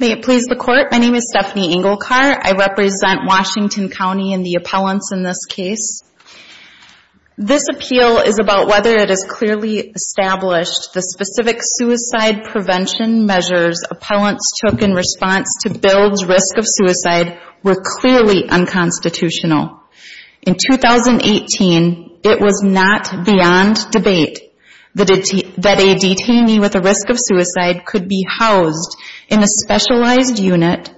May it please the Court, my name is Stephanie Engelkar. I represent Washington County and the appellants in this case. This appeal is about whether it is clearly established the specific suicide prevention measures appellants took in response to Bill's risk of suicide were clearly unconstitutional. In 2018, it was not beyond debate that a detainee with a risk of suicide could be housed in a specialized unit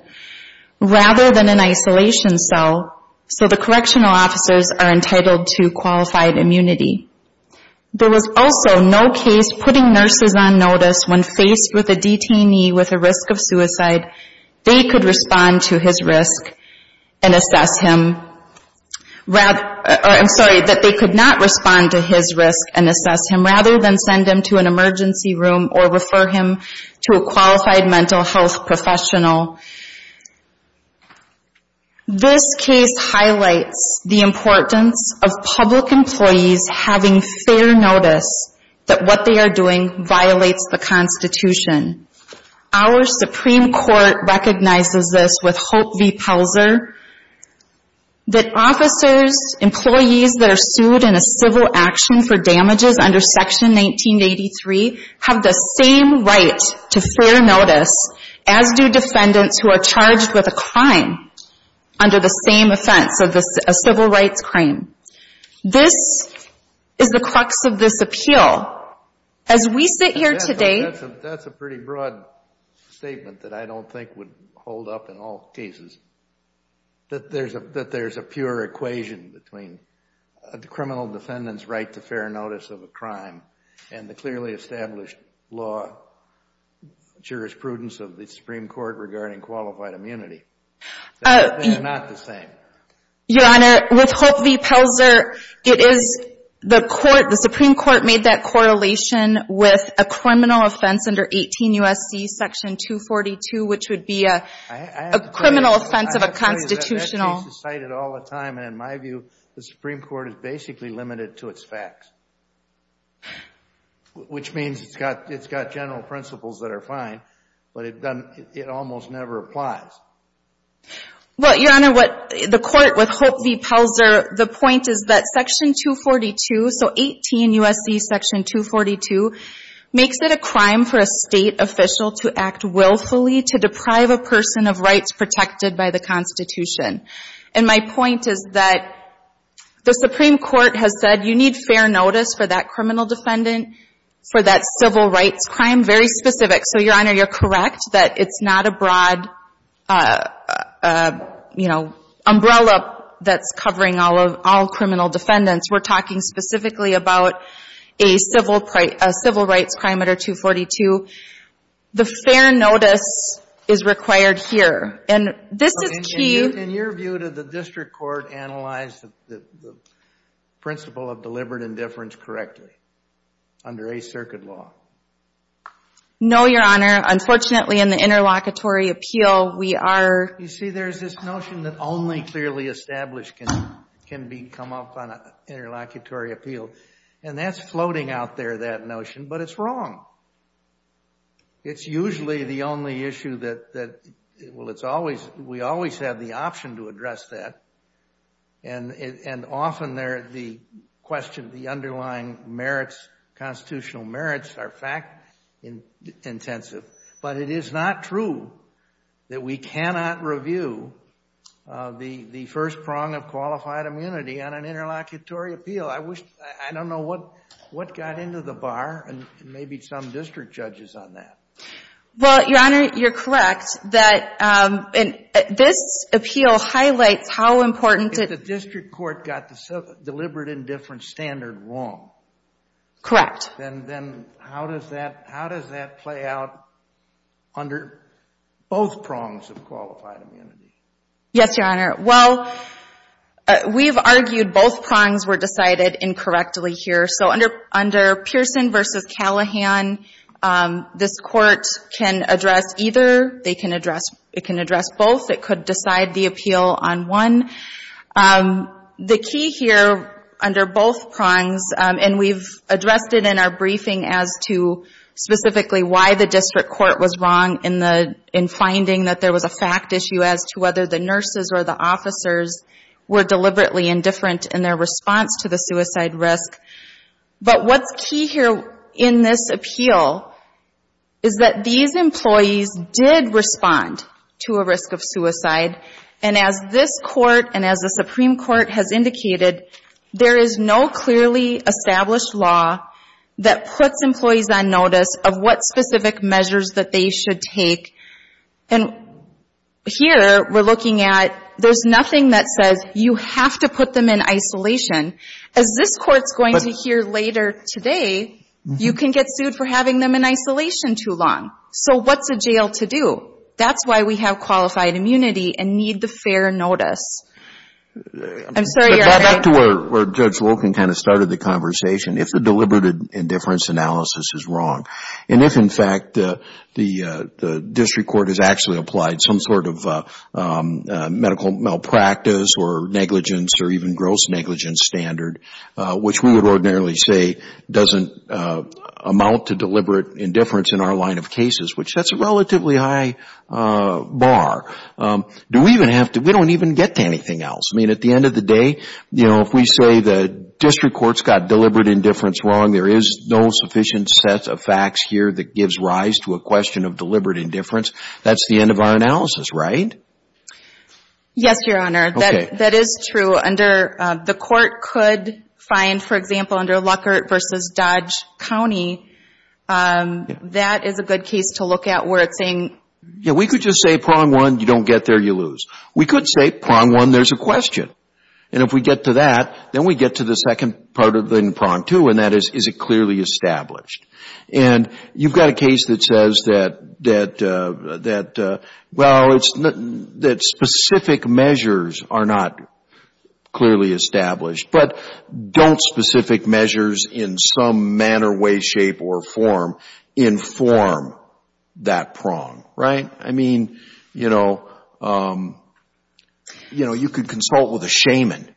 rather than an isolation cell so the correctional officers are entitled to qualified immunity. There was also no case putting nurse is on notice when faced with a detainee with a risk of suicide, they could respond to his risk and assess him rather than send him to an emergency room or refer him to a qualified mental health professional. This case highlights the importance of public employees having fair notice that what they are doing violates the Constitution. Our Supreme Court recognizes this with Hope v. Pelzer that officers, employees that are sued in a civil action for damages under section 1983 have the same right to fair notice as do defendants who are charged with a crime under the same offense, a civil rights crime. This is the crux of this appeal. As we sit here today... That's a pretty broad statement that I don't think would hold up in all cases, that there's a pure equation between a criminal defendant's right to fair notice of a crime and the clearly that they are not the same. Your Honor, with Hope v. Pelzer, the Supreme Court made that correlation with a criminal offense under 18 U.S.C. section 242, which would be a criminal offense of a constitutional... I have to tell you that that case is cited all the time and in my view, the Supreme Court is basically limited to its facts, which means it's got general principles that are fine but it almost never applies. Well, Your Honor, the court with Hope v. Pelzer, the point is that section 242, so 18 U.S.C. section 242, makes it a crime for a state official to act willfully to deprive a person of rights protected by the Constitution. And my point is that the Supreme Court has said you need fair notice for that criminal defendant for that civil rights crime, very specific. So, Your Honor, you're correct that it's not a broad umbrella that's covering all criminal defendants. We're talking specifically about a civil rights crime under 242. The fair notice is required here. And this is key... In your view, did the district court analyze the principle of deliberate indifference correctly under a circuit law? No, Your Honor. Unfortunately, in the interlocutory appeal, we are... You see, there's this notion that only clearly established can be come up on an interlocutory appeal. And that's floating out there, that notion, but it's wrong. It's usually the only issue that, well, it's always, we always have the option to address that. And often they're the question of the underlying merits, constitutional merits are fact-intensive. But it is not true that we cannot review the first prong of qualified immunity on an interlocutory appeal. I don't know what got into the bar, and maybe some district judges on that. Well, Your Honor, you're correct that this appeal highlights how important... But the district court got the deliberate indifference standard wrong. Correct. And then how does that play out under both prongs of qualified immunity? Yes, Your Honor. Well, we've argued both prongs were decided incorrectly here. So under Pearson v. Callahan, this court can address either. They can address, it can address both. It could decide the appeal on one. The key here under both prongs, and we've addressed it in our briefing as to specifically why the district court was wrong in finding that there was a fact issue as to whether the nurses or the officers were deliberately indifferent in their response to the suicide risk. But what's key here in this appeal is that these And as this court and as the Supreme Court has indicated, there is no clearly established law that puts employees on notice of what specific measures that they should take. And here we're looking at, there's nothing that says you have to put them in isolation. As this court's going to hear later today, you can get sued for having them in isolation too long. So what's a jail to do? That's why we have qualified immunity and need the fair notice. I'm sorry, Your Honor. But back to where Judge Loken kind of started the conversation, if the deliberate indifference analysis is wrong. And if in fact the district court has actually applied some sort of medical malpractice or negligence or even gross negligence standard, which we would ordinarily say doesn't amount to deliberate indifference in our line of cases, which that's a relatively high bar, do we even have to, we don't even get to anything else. I mean, at the end of the day, you know, if we say the district court's got deliberate indifference wrong, there is no sufficient set of facts here that gives rise to a question of deliberate indifference. That's the end of our analysis, right? Yes, Your Honor. That is true. The court could find, for example, under Luckert v. Dodge, County, that is a good case to look at where it's saying... Yeah, we could just say prong one, you don't get there, you lose. We could say prong one, there's a question. And if we get to that, then we get to the second part of the prong two, and that is, is it clearly established? And you've got a case that says that, well, that specific measures are not clearly established, but don't specific measures in some manner way, shape, or form inform that prong, right? I mean, you know, you could consult with a shaman,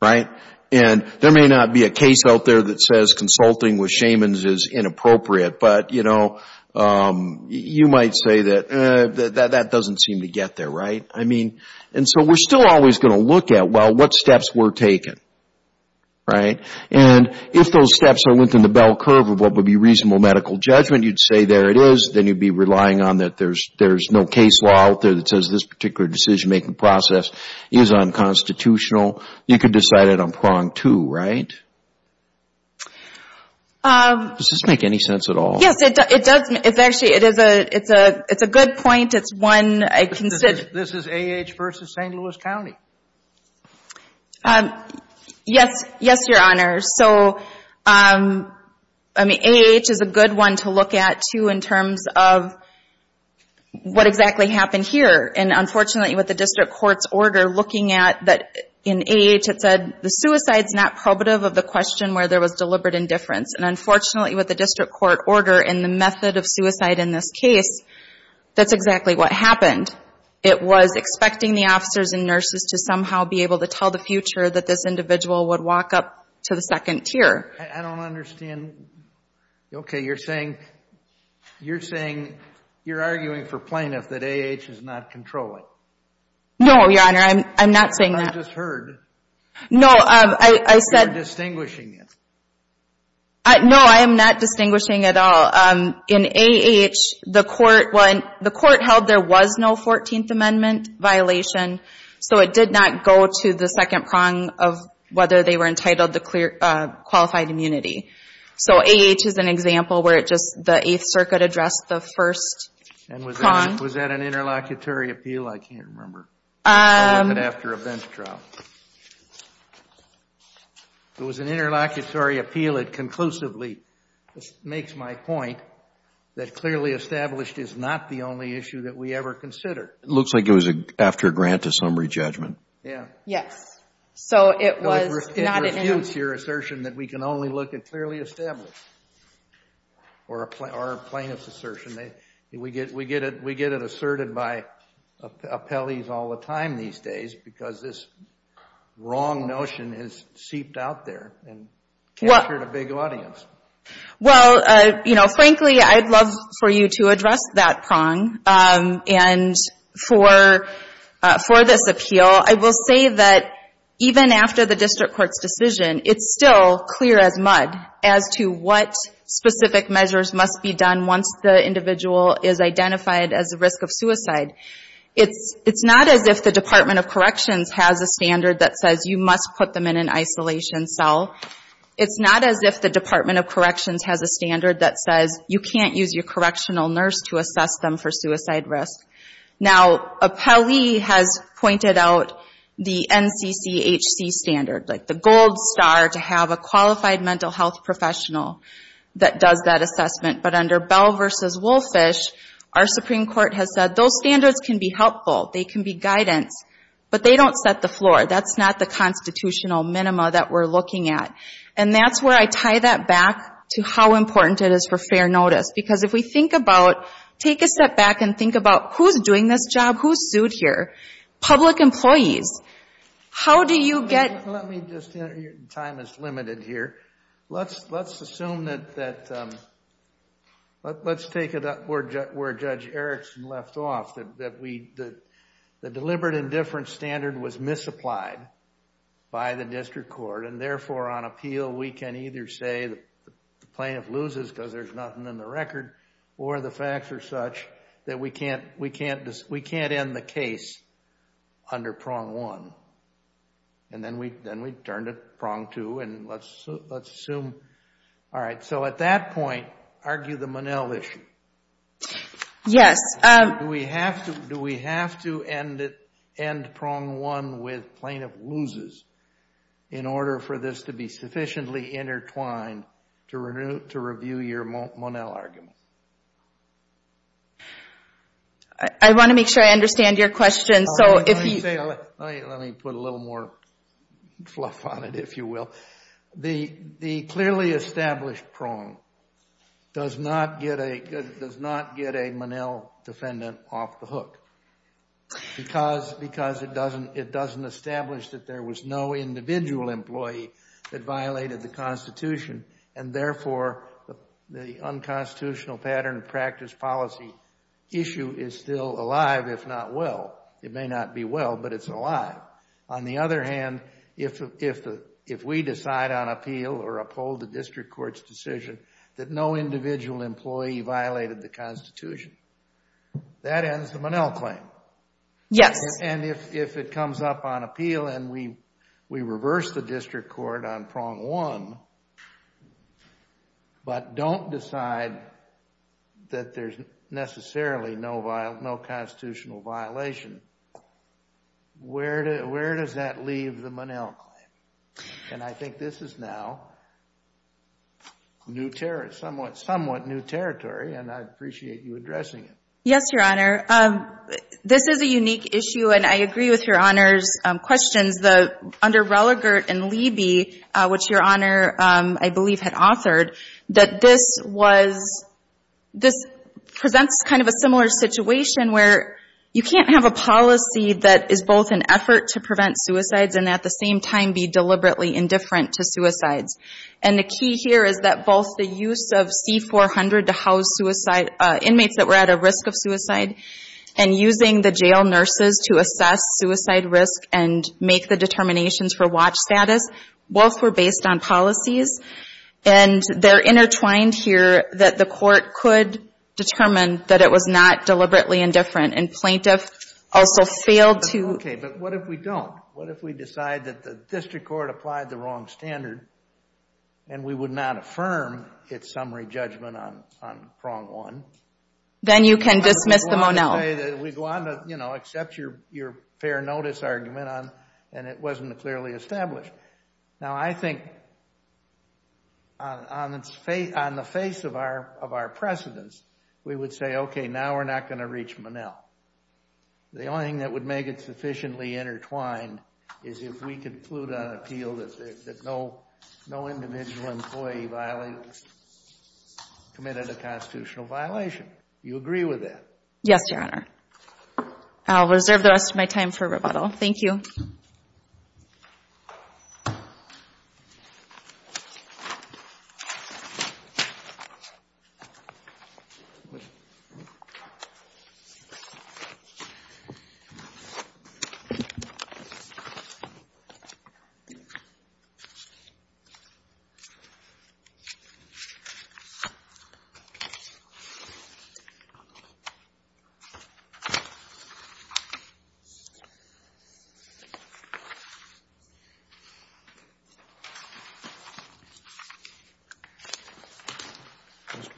right? And there may not be a case out there that says consulting with shamans is inappropriate, but, you know, you might say that that doesn't seem to get there, right? And so we're still always going to look at, well, what steps were taken, right? And if those steps are within the bell curve of what would be reasonable medical judgment, you'd say there it is, then you'd be relying on that there's no case law out there that says this particular decision-making process is unconstitutional. You could decide it on prong two, right? Does this make any sense at all? Yes, it does. It's actually, it's a good point. It's one I consider... This is A.H. v. St. Louis County. Yes, yes, Your Honor. So, I mean, A.H. is a good one to look at, too, in terms of what exactly happened here. And unfortunately, with the district court's order looking at that, in A.H. it said, the suicide's not probative of the question where there was deliberate indifference. And unfortunately, with the district court order and the method of suicide in this case, that's exactly what happened. It was expecting the officers and nurses to somehow be able to tell the future that this individual would walk up to the second tier. I don't understand. Okay, you're saying, you're arguing for plaintiff that A.H. does not control it. No, Your Honor. I'm not saying that. I just heard. No, I said... You're distinguishing it. No, I am not distinguishing at all. In A.H., the court held there was no Fourteenth Amendment violation, so it did not go to the second prong of whether they were entitled to qualified immunity. So A.H. is an example where it just, the Eighth Circuit addressed the first prong. Was that an interlocutory appeal? I can't remember. I left it after a bench trial. It was an interlocutory appeal. It conclusively makes my point that clearly established is not the only issue that we ever consider. It looks like it was after a grant to summary judgment. Yeah. Yes. So it was not an interlocutory... It refutes your assertion that we can only look at clearly established or a plaintiff's assertion. We get it asserted by appellees all the time these days because this wrong notion has seeped out there and captured a big audience. Well, frankly, I'd love for you to address that prong. And for this appeal, I will say that even after the district court's decision, it's still clear as mud as to what specific measures must be done once the individual is identified as a risk of suicide. It's not as if the Department of Corrections has a standard that says you must put them in an isolation cell. It's not as if the Department of Corrections has a standard that says you can't use your correctional nurse to assess them for suicide risk. Now appellee has pointed out the NCCHC standard, like the gold star to have a qualified mental health professional that does that assessment. But under Bell v. Woolfish, our Supreme Court has said those standards can be helpful, they can be guidance, but they don't set the floor. That's not the constitutional minima that we're looking at. And that's where I tie that back to how important it is for fair notice. Because if we think about, take a step back and think about who's doing this job, who's sued here, public employees, how do you get Let me just, your time is limited here. Let's assume that, let's take it up where Judge Erickson left off, that the deliberate indifference standard was misapplied by the district court and therefore on appeal we can either say the plaintiff loses because there's nothing in the record, or the facts are such that we can't end the case under prong one. And then we turn to prong two and let's assume. All right, so at that point, argue the Monell issue. Yes. Do we have to end prong one with plaintiff loses in order for this to be sufficiently intertwined to review your Monell argument? I want to make sure I understand your question. So if you. Let me put a little more fluff on it, if you will. The clearly established prong does not get a Monell defendant off the hook because it doesn't establish that there was no individual employee that violated the Constitution and therefore the unconstitutional pattern of practice policy issue is still alive, if not well. It may not be well, but it's alive. On the other hand, if we decide on appeal or uphold the district court's decision that no individual employee violated the Constitution, that ends the Monell claim. Yes. And if it comes up on appeal and we reverse the district court on prong one, but don't decide that there's necessarily no constitutional violation, where does that leave the Monell claim? And I think this is now somewhat new territory and I appreciate you addressing it. Yes, Your Honor. This is a unique issue and I agree with Your Honor's questions. Under Religert and Leiby, which Your Honor I believe had authored, that this presents kind of a similar situation where you can't have a policy that is both an effort to prevent suicides and at the same time be deliberately indifferent to suicides. And the key here is that both the use of C400 to house inmates that were at a risk of suicide and using the jail nurses to assess suicide risk and make the determinations for watch status, both were based on policies and they're intertwined here that the court could determine that it was not deliberately indifferent and plaintiff also failed to... Okay, but what if we don't? What if we decide that the district court applied the wrong standard and we would not affirm its summary judgment on prong one? Then you can dismiss the Monell. We go on to, you know, accept your fair notice argument and it wasn't clearly established. Now, I think on the face of our precedence, we would say, okay, now we're not going to reach Monell. The only thing that would make it sufficiently intertwined is if we conclude on appeal that no individual employee committed a constitutional violation. Do you agree with that? Yes, Your Honor. I'll reserve the rest of my time for rebuttal. Thank you.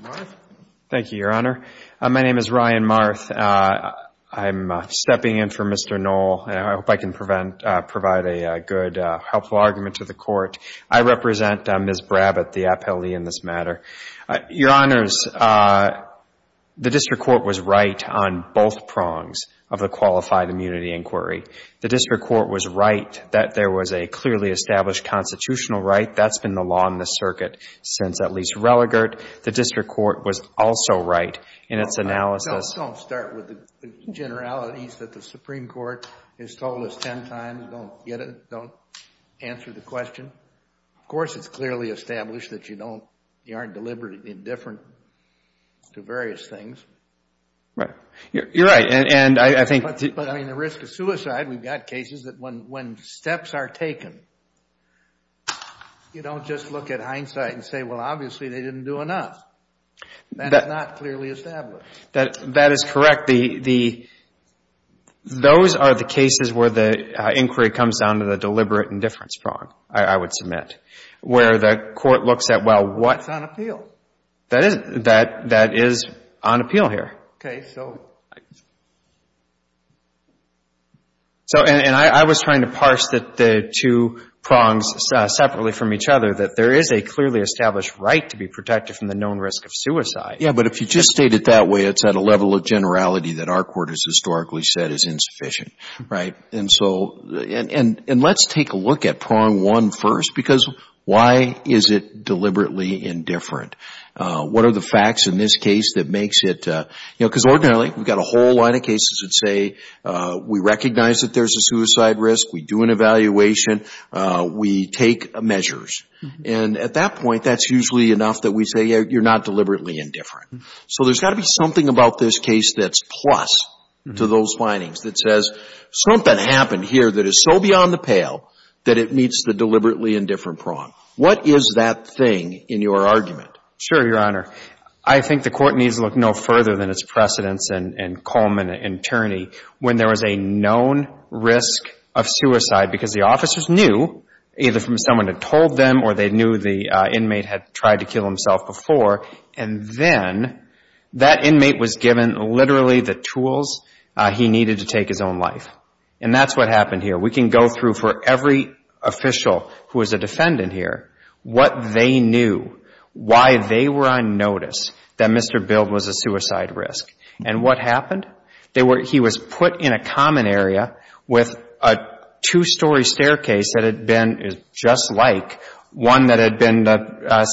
Mr. Marth? Thank you, Your Honor. My name is Ryan Marth. I'm stepping in for Mr. Noll and I hope I can provide a good, helpful argument to the court. I represent Ms. Brabbit, the defendant. Of course, it's clearly established that you aren't deliberative, indifferent and indifferent. You're right. But, I mean, the risk of suicide, we've got cases that when steps are taken, you don't just look at hindsight and say, well, obviously, they didn't do enough. That's not clearly established. That is correct. Those are the cases where the inquiry comes down to the deliberate indifference prong, I would submit, where the court looks at, well, what's on appeal? That is on appeal here. Okay. So? So, and I was trying to parse the two prongs separately from each other, that there is a clearly established right to be protected from the known risk of suicide. Yeah. But if you just state it that way, it's at a level of generality that our court has because why is it deliberately indifferent? What are the facts in this case that makes it? You know, because ordinarily, we've got a whole line of cases that say, we recognize that there's a suicide risk, we do an evaluation, we take measures. And at that point, that's usually enough that we say, yeah, you're not deliberately indifferent. So there's got to be something about this case that's plus to those findings that says something happened here that is so beyond the pale that it meets the deliberately indifferent prong. What is that thing in your argument? Sure, Your Honor. I think the court needs to look no further than its precedents and Coleman, an attorney, when there was a known risk of suicide because the officers knew, either from someone who told them or they knew the inmate had tried to kill himself before, and then that inmate was given literally the tools he needed to take his own life. And that's what happened here. We can go through for every official who is a defendant here, what they knew, why they were on notice that Mr. Bild was a suicide risk. And what happened? He was put in a common area with a two-story staircase that had been just like one that had been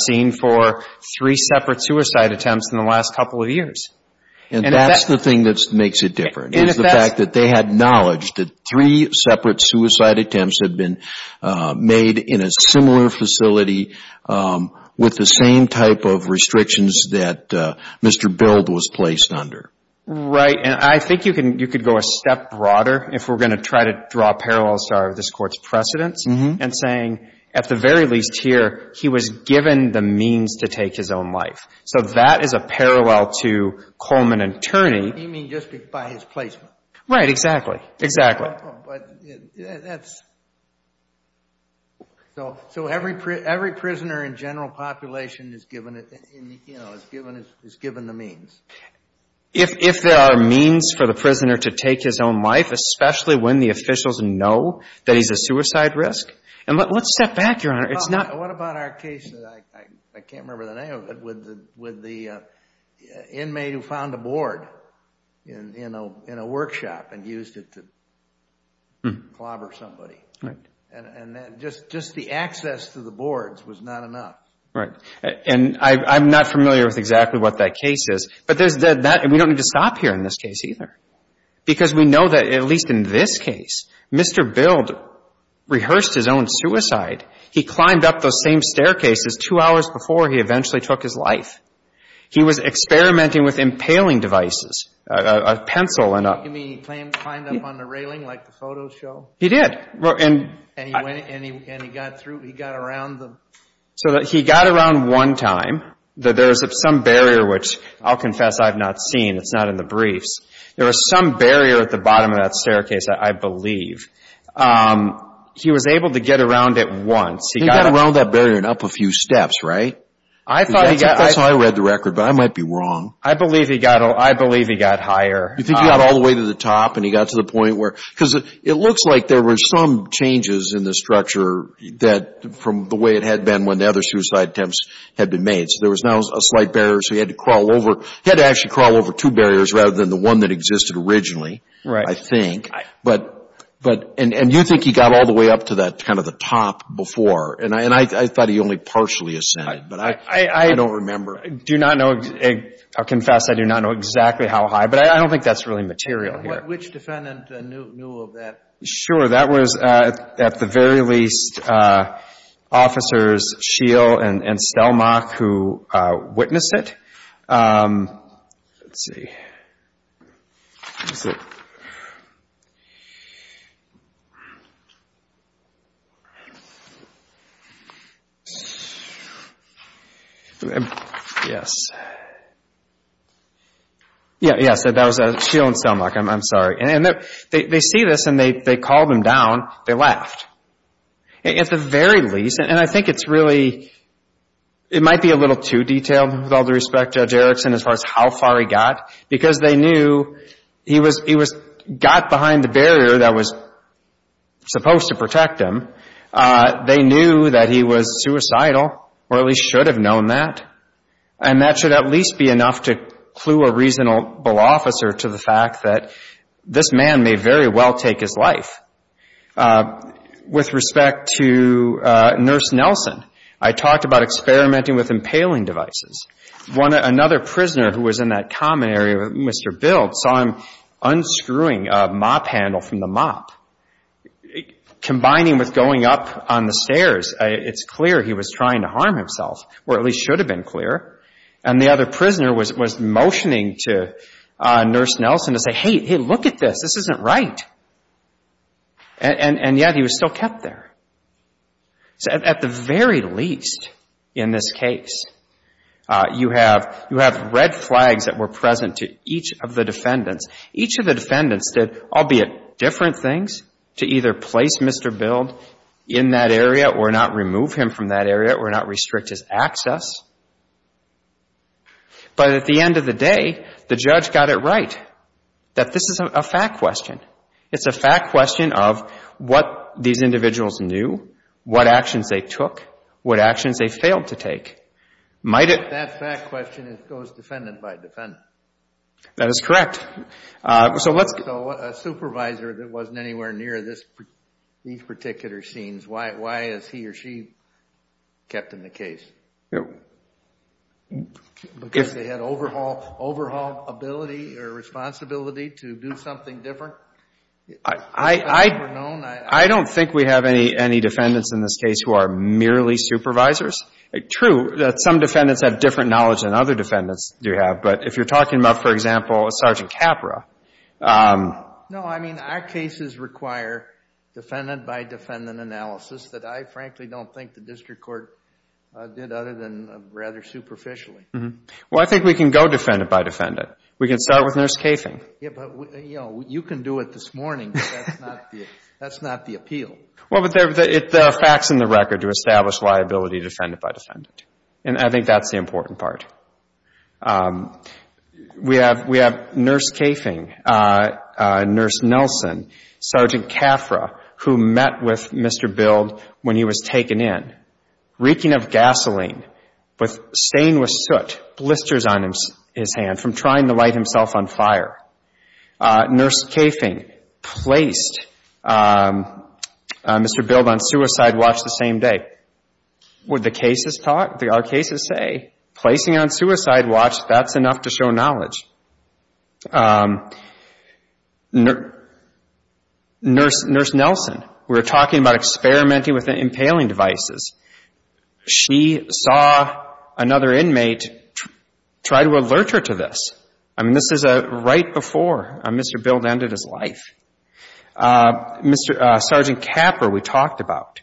seen for three separate suicide attempts in the last couple of years. And that's the thing that makes it different, is the fact that they had knowledge that three separate suicide attempts had been made in a similar facility with the same type of restrictions that Mr. Bild was placed under. Right. And I think you could go a step broader if we're going to try to draw a parallel star of this Court's precedents and saying, at the very least here, he was given the means to take his own life. So that is a parallel to Coleman, an attorney. You mean just by his placement? Right. Exactly. Exactly. But that's... So every prisoner in general population is given the means? If there are means for the prisoner to take his own life, especially when the officials know that he's a suicide risk? And let's step back, Your Honor. It's not... What about our case, I can't remember the name of it, with the inmate who found a board in a workshop and used it to clobber somebody? Right. And just the access to the boards was not enough. Right. And I'm not familiar with exactly what that case is. But we don't need to stop here in this case either. Because we know that, at least in this case, Mr. Bild rehearsed his own suicide. He climbed up those same staircases two hours before he eventually took his life. He was experimenting with impaling devices, a pencil and a... You mean he climbed up on the railing like the photos show? He did. And he went... And he got through... He got around the... So he got around one time. There was some barrier, which I'll confess I've not seen. It's not in the briefs. There was some barrier at the bottom of that staircase, I believe. He was able to get around it once. He got around that barrier and up a few steps, right? I thought he got... That's how I read the record, but I might be wrong. I believe he got... I believe he got higher. You think he got all the way to the top and he got to the point where... Because it looks like there were some changes in the structure that... from the way it had been when the other suicide attempts had been made. So there was now a slight barrier. So he had to crawl over two barriers rather than the one that existed originally, I think. Right. But... And you think he got all the way up to that kind of the top before. And I thought he only partially ascended, but I don't remember. I do not know... I confess I do not know exactly how high, but I don't think that's really material here. Which defendant knew of that? Sure. That was, at the very least, Officers Scheel and Stelmach who witnessed it. Let's And if they called him down, they left. At the very least, and I think it's really... It might be a little too detailed, with all due respect, Judge Erickson, as far as how far he got. Because they knew he was got behind the barrier that was supposed to protect him. They knew that he was suicidal, or at least should have known that. And that should at least be enough to clue a reasonable officer to the fact that this man may very well take his life. With respect to Nurse Nelson, I talked about experimenting with impaling devices. One... Another prisoner who was in that common area, Mr. Bild, saw him unscrewing a mop handle from the mop. Combining with going up on the stairs, it's clear he was trying to harm himself, or at least should have been clear. And the other prisoner was motioning to Nurse Nelson to say, hey, hey, look at this. This isn't right. And yet he was still kept there. So at the very least, in this case, you have red flags that were present to each of the defendants. Each of the defendants did, albeit different things, to either place Mr. Bild in that area or not remove him from that area or not restrict his access. But at the end of the day, the judge got it right, that this is a fact question. It's a fact question of what these individuals knew, what actions they took, what actions they failed to take. That fact question goes defendant by defendant. That is correct. So a supervisor that wasn't anywhere near these particular scenes, why has he or she kept him in the case? Because they had overhaul ability or responsibility to do something different? I don't think we have any defendants in this case who are merely supervisors. True, some defendants have different knowledge than other defendants do have. But if you're talking about, for example, a Sergeant Capra. No, I mean, our cases require defendant by defendant analysis that I frankly don't think the district court did other than rather superficially. Well, I think we can go defendant by defendant. We can start with Nurse Kaefing. You can do it this morning, but that's not the appeal. Well, but the fact's in the record to establish liability defendant by defendant. And I think that's the important part. We have Nurse Kaefing, Nurse Nelson, Sergeant Capra, who met with Mr. Bild when he was taken in, reeking of gasoline, stained with soot, blisters on his hand from trying to light himself on fire. Nurse Kaefing placed Mr. Bild on suicide watch the same day. What our cases say, placing on suicide watch, that's enough to show knowledge. Nurse Nelson, we're talking about experimenting with impaling devices. She saw another inmate try to alert her to this. I mean, this is right before Mr. Bild ended his life. Sergeant Capra, we talked about.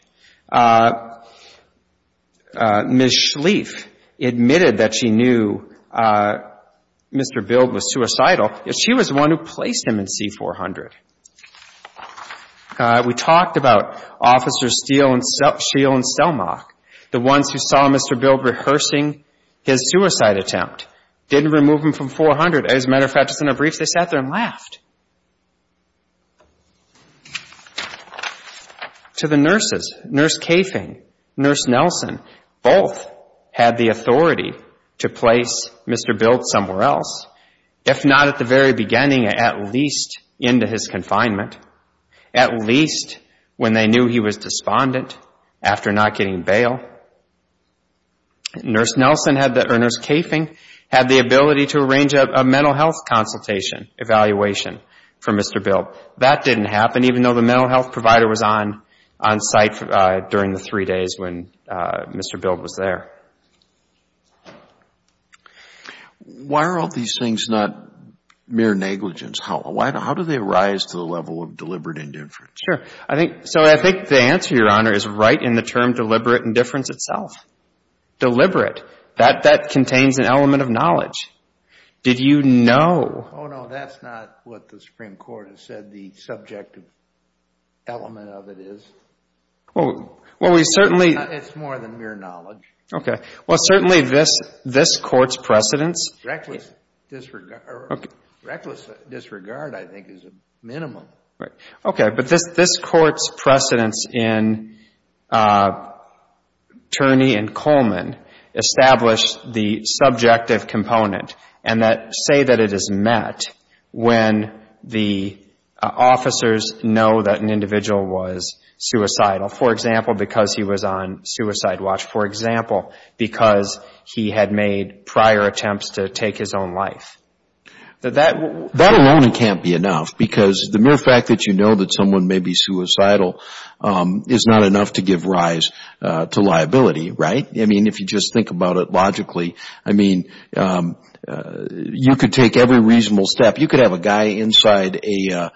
Ms. Schlieff admitted that she knew Mr. Bild was suicidal. She was the one who placed him in C-400. We talked about Officers Steele and Selmach, the ones who saw Mr. Bild rehearsing his suicide attempt, didn't remove him from C-400. As a matter of fact, just in a brief, they sat there and laughed. To the nurses, Nurse Kaefing, Nurse Nelson, both had the authority to place Mr. Bild somewhere else, if not at the very beginning, at least into his confinement, at least when they knew he was despondent after not getting bail. Nurse Kaefing had the ability to arrange a mental health consultation, evaluation for Mr. Bild. That didn't happen, even though the mental health provider was on site during the three days when Mr. Bild was there. Why are all these things not mere negligence? How do they rise to the level of deliberate indifference? Sure. So I think the answer, Your Honor, is right in the term deliberate indifference itself. Deliberate, that contains an element of knowledge. Did you know? Oh, no, that's not what the Supreme Court has said the subjective element of it is. Well, we certainly It's more than mere knowledge. Okay. Well, certainly this Court's precedence Reckless disregard, I think, is a minimum. Right. Okay. But this Court's precedence in Turney and Coleman established the subjective component and that say that it is met when the officers know that an individual was suicidal, for example, because he was on suicide watch, for example, because he had made prior attempts to take his own life. That alone can't be enough because the mere fact that you know that someone may be suicidal is not enough to give rise to liability, right? I mean, if you just think about it logically, I mean, you could take every reasonable step. You could have a guy inside a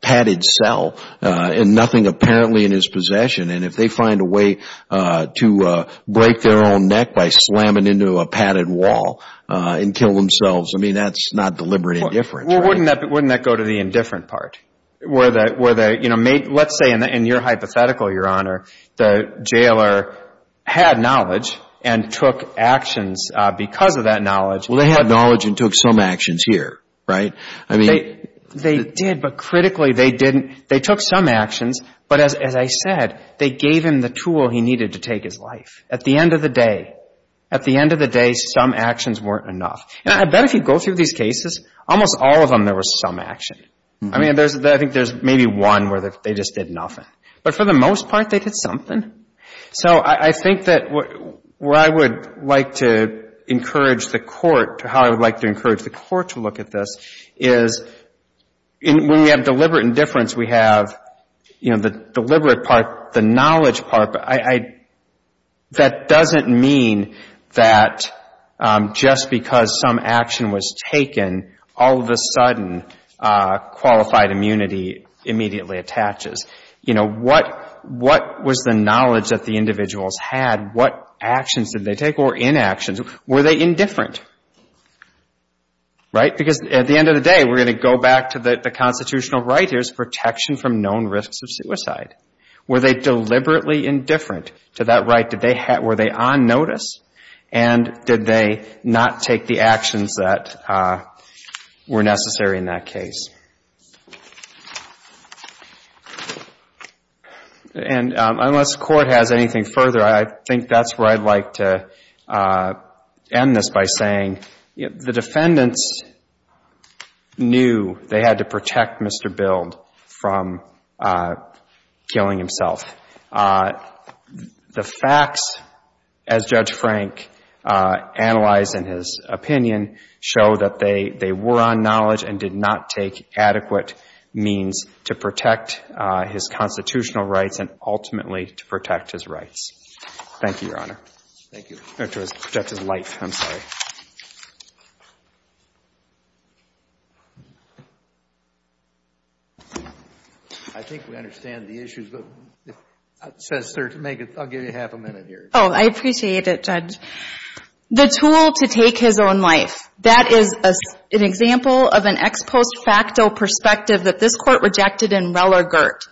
padded cell and nothing apparently in his possession and if they find a way to break their own neck by slamming into a padded wall and kill themselves, I mean, that's not deliberate indifference, right? Well, wouldn't that go to the indifferent part where they, you know, let's say in your hypothetical, Your Honor, the jailer had knowledge and took actions because of that knowledge. Well, they had knowledge and took some actions here, right? I mean They did, but critically they didn't. They took some actions, but as I said, they gave him the tool he needed to take his life. At the end of the day, at the end of the day, some actions weren't enough. And I bet if you go through these cases, almost all of them there was some action. I mean, I think there's maybe one where they just did nothing. But for the most part, they did something. So I think that where I would like to encourage the Court, how I would like to encourage the Court to look at this is when we have deliberate indifference, we have, you know, the deliberate part, the knowledge part. That doesn't mean that just because some action was taken, all of a sudden qualified immunity immediately attaches. You know, what was the knowledge that the individuals had? What actions did they take or inactions? Were they indifferent? Right? Because at the end of the day, we're protection from known risks of suicide. Were they deliberately indifferent to that right? Did they, were they on notice? And did they not take the actions that were necessary in that case? And unless the Court has anything further, I think that's where I'd like to end this by saying, you know, the defendants knew they had to protect Mr. Bild from killing himself. The facts, as Judge Frank analyzed in his opinion, show that they were on knowledge and did not take adequate means to protect his constitutional rights and ultimately to protect his rights. Thank you, Your Honor. Thank you. Or to protect his life, I'm sorry. I think we understand the issues, but I'll give you half a minute here. Oh, I appreciate it, Judge. The tool to take his own life, that is an example of an ex post facto perspective that this Court rejected in Reller-Girt.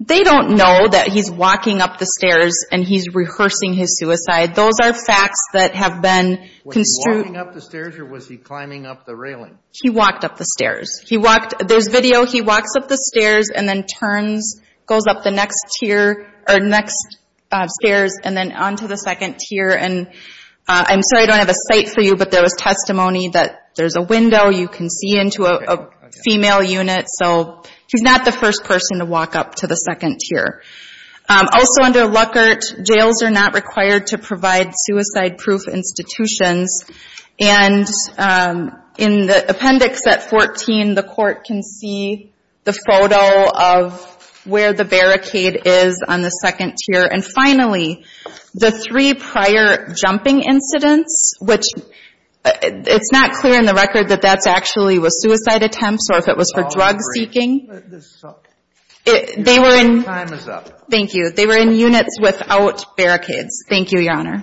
They don't know that he's walking up the stairs and he's rehearsing his suicide. Those are facts that have been construed. Was he walking up the stairs or was he climbing up the railing? He walked up the stairs. He walked, there's video, he walks up the stairs and then turns, goes up the next tier, or next stairs and then onto the second tier. And I'm sorry, I don't have a site for you, but there was testimony that there's a window you can see into a female unit. So he's not the first person to walk up to the second tier. Also under Luckert, jails are not required to provide suicide proof institutions. And in the appendix at 14, the Court can see the photo of where the barricade is on the second tier. And finally, the three prior jumping incidents, which it's not clear in the record that that's actually with suicide attempts or if it was for drug seeking, they were in units without barricades. Thank you, Your Honor.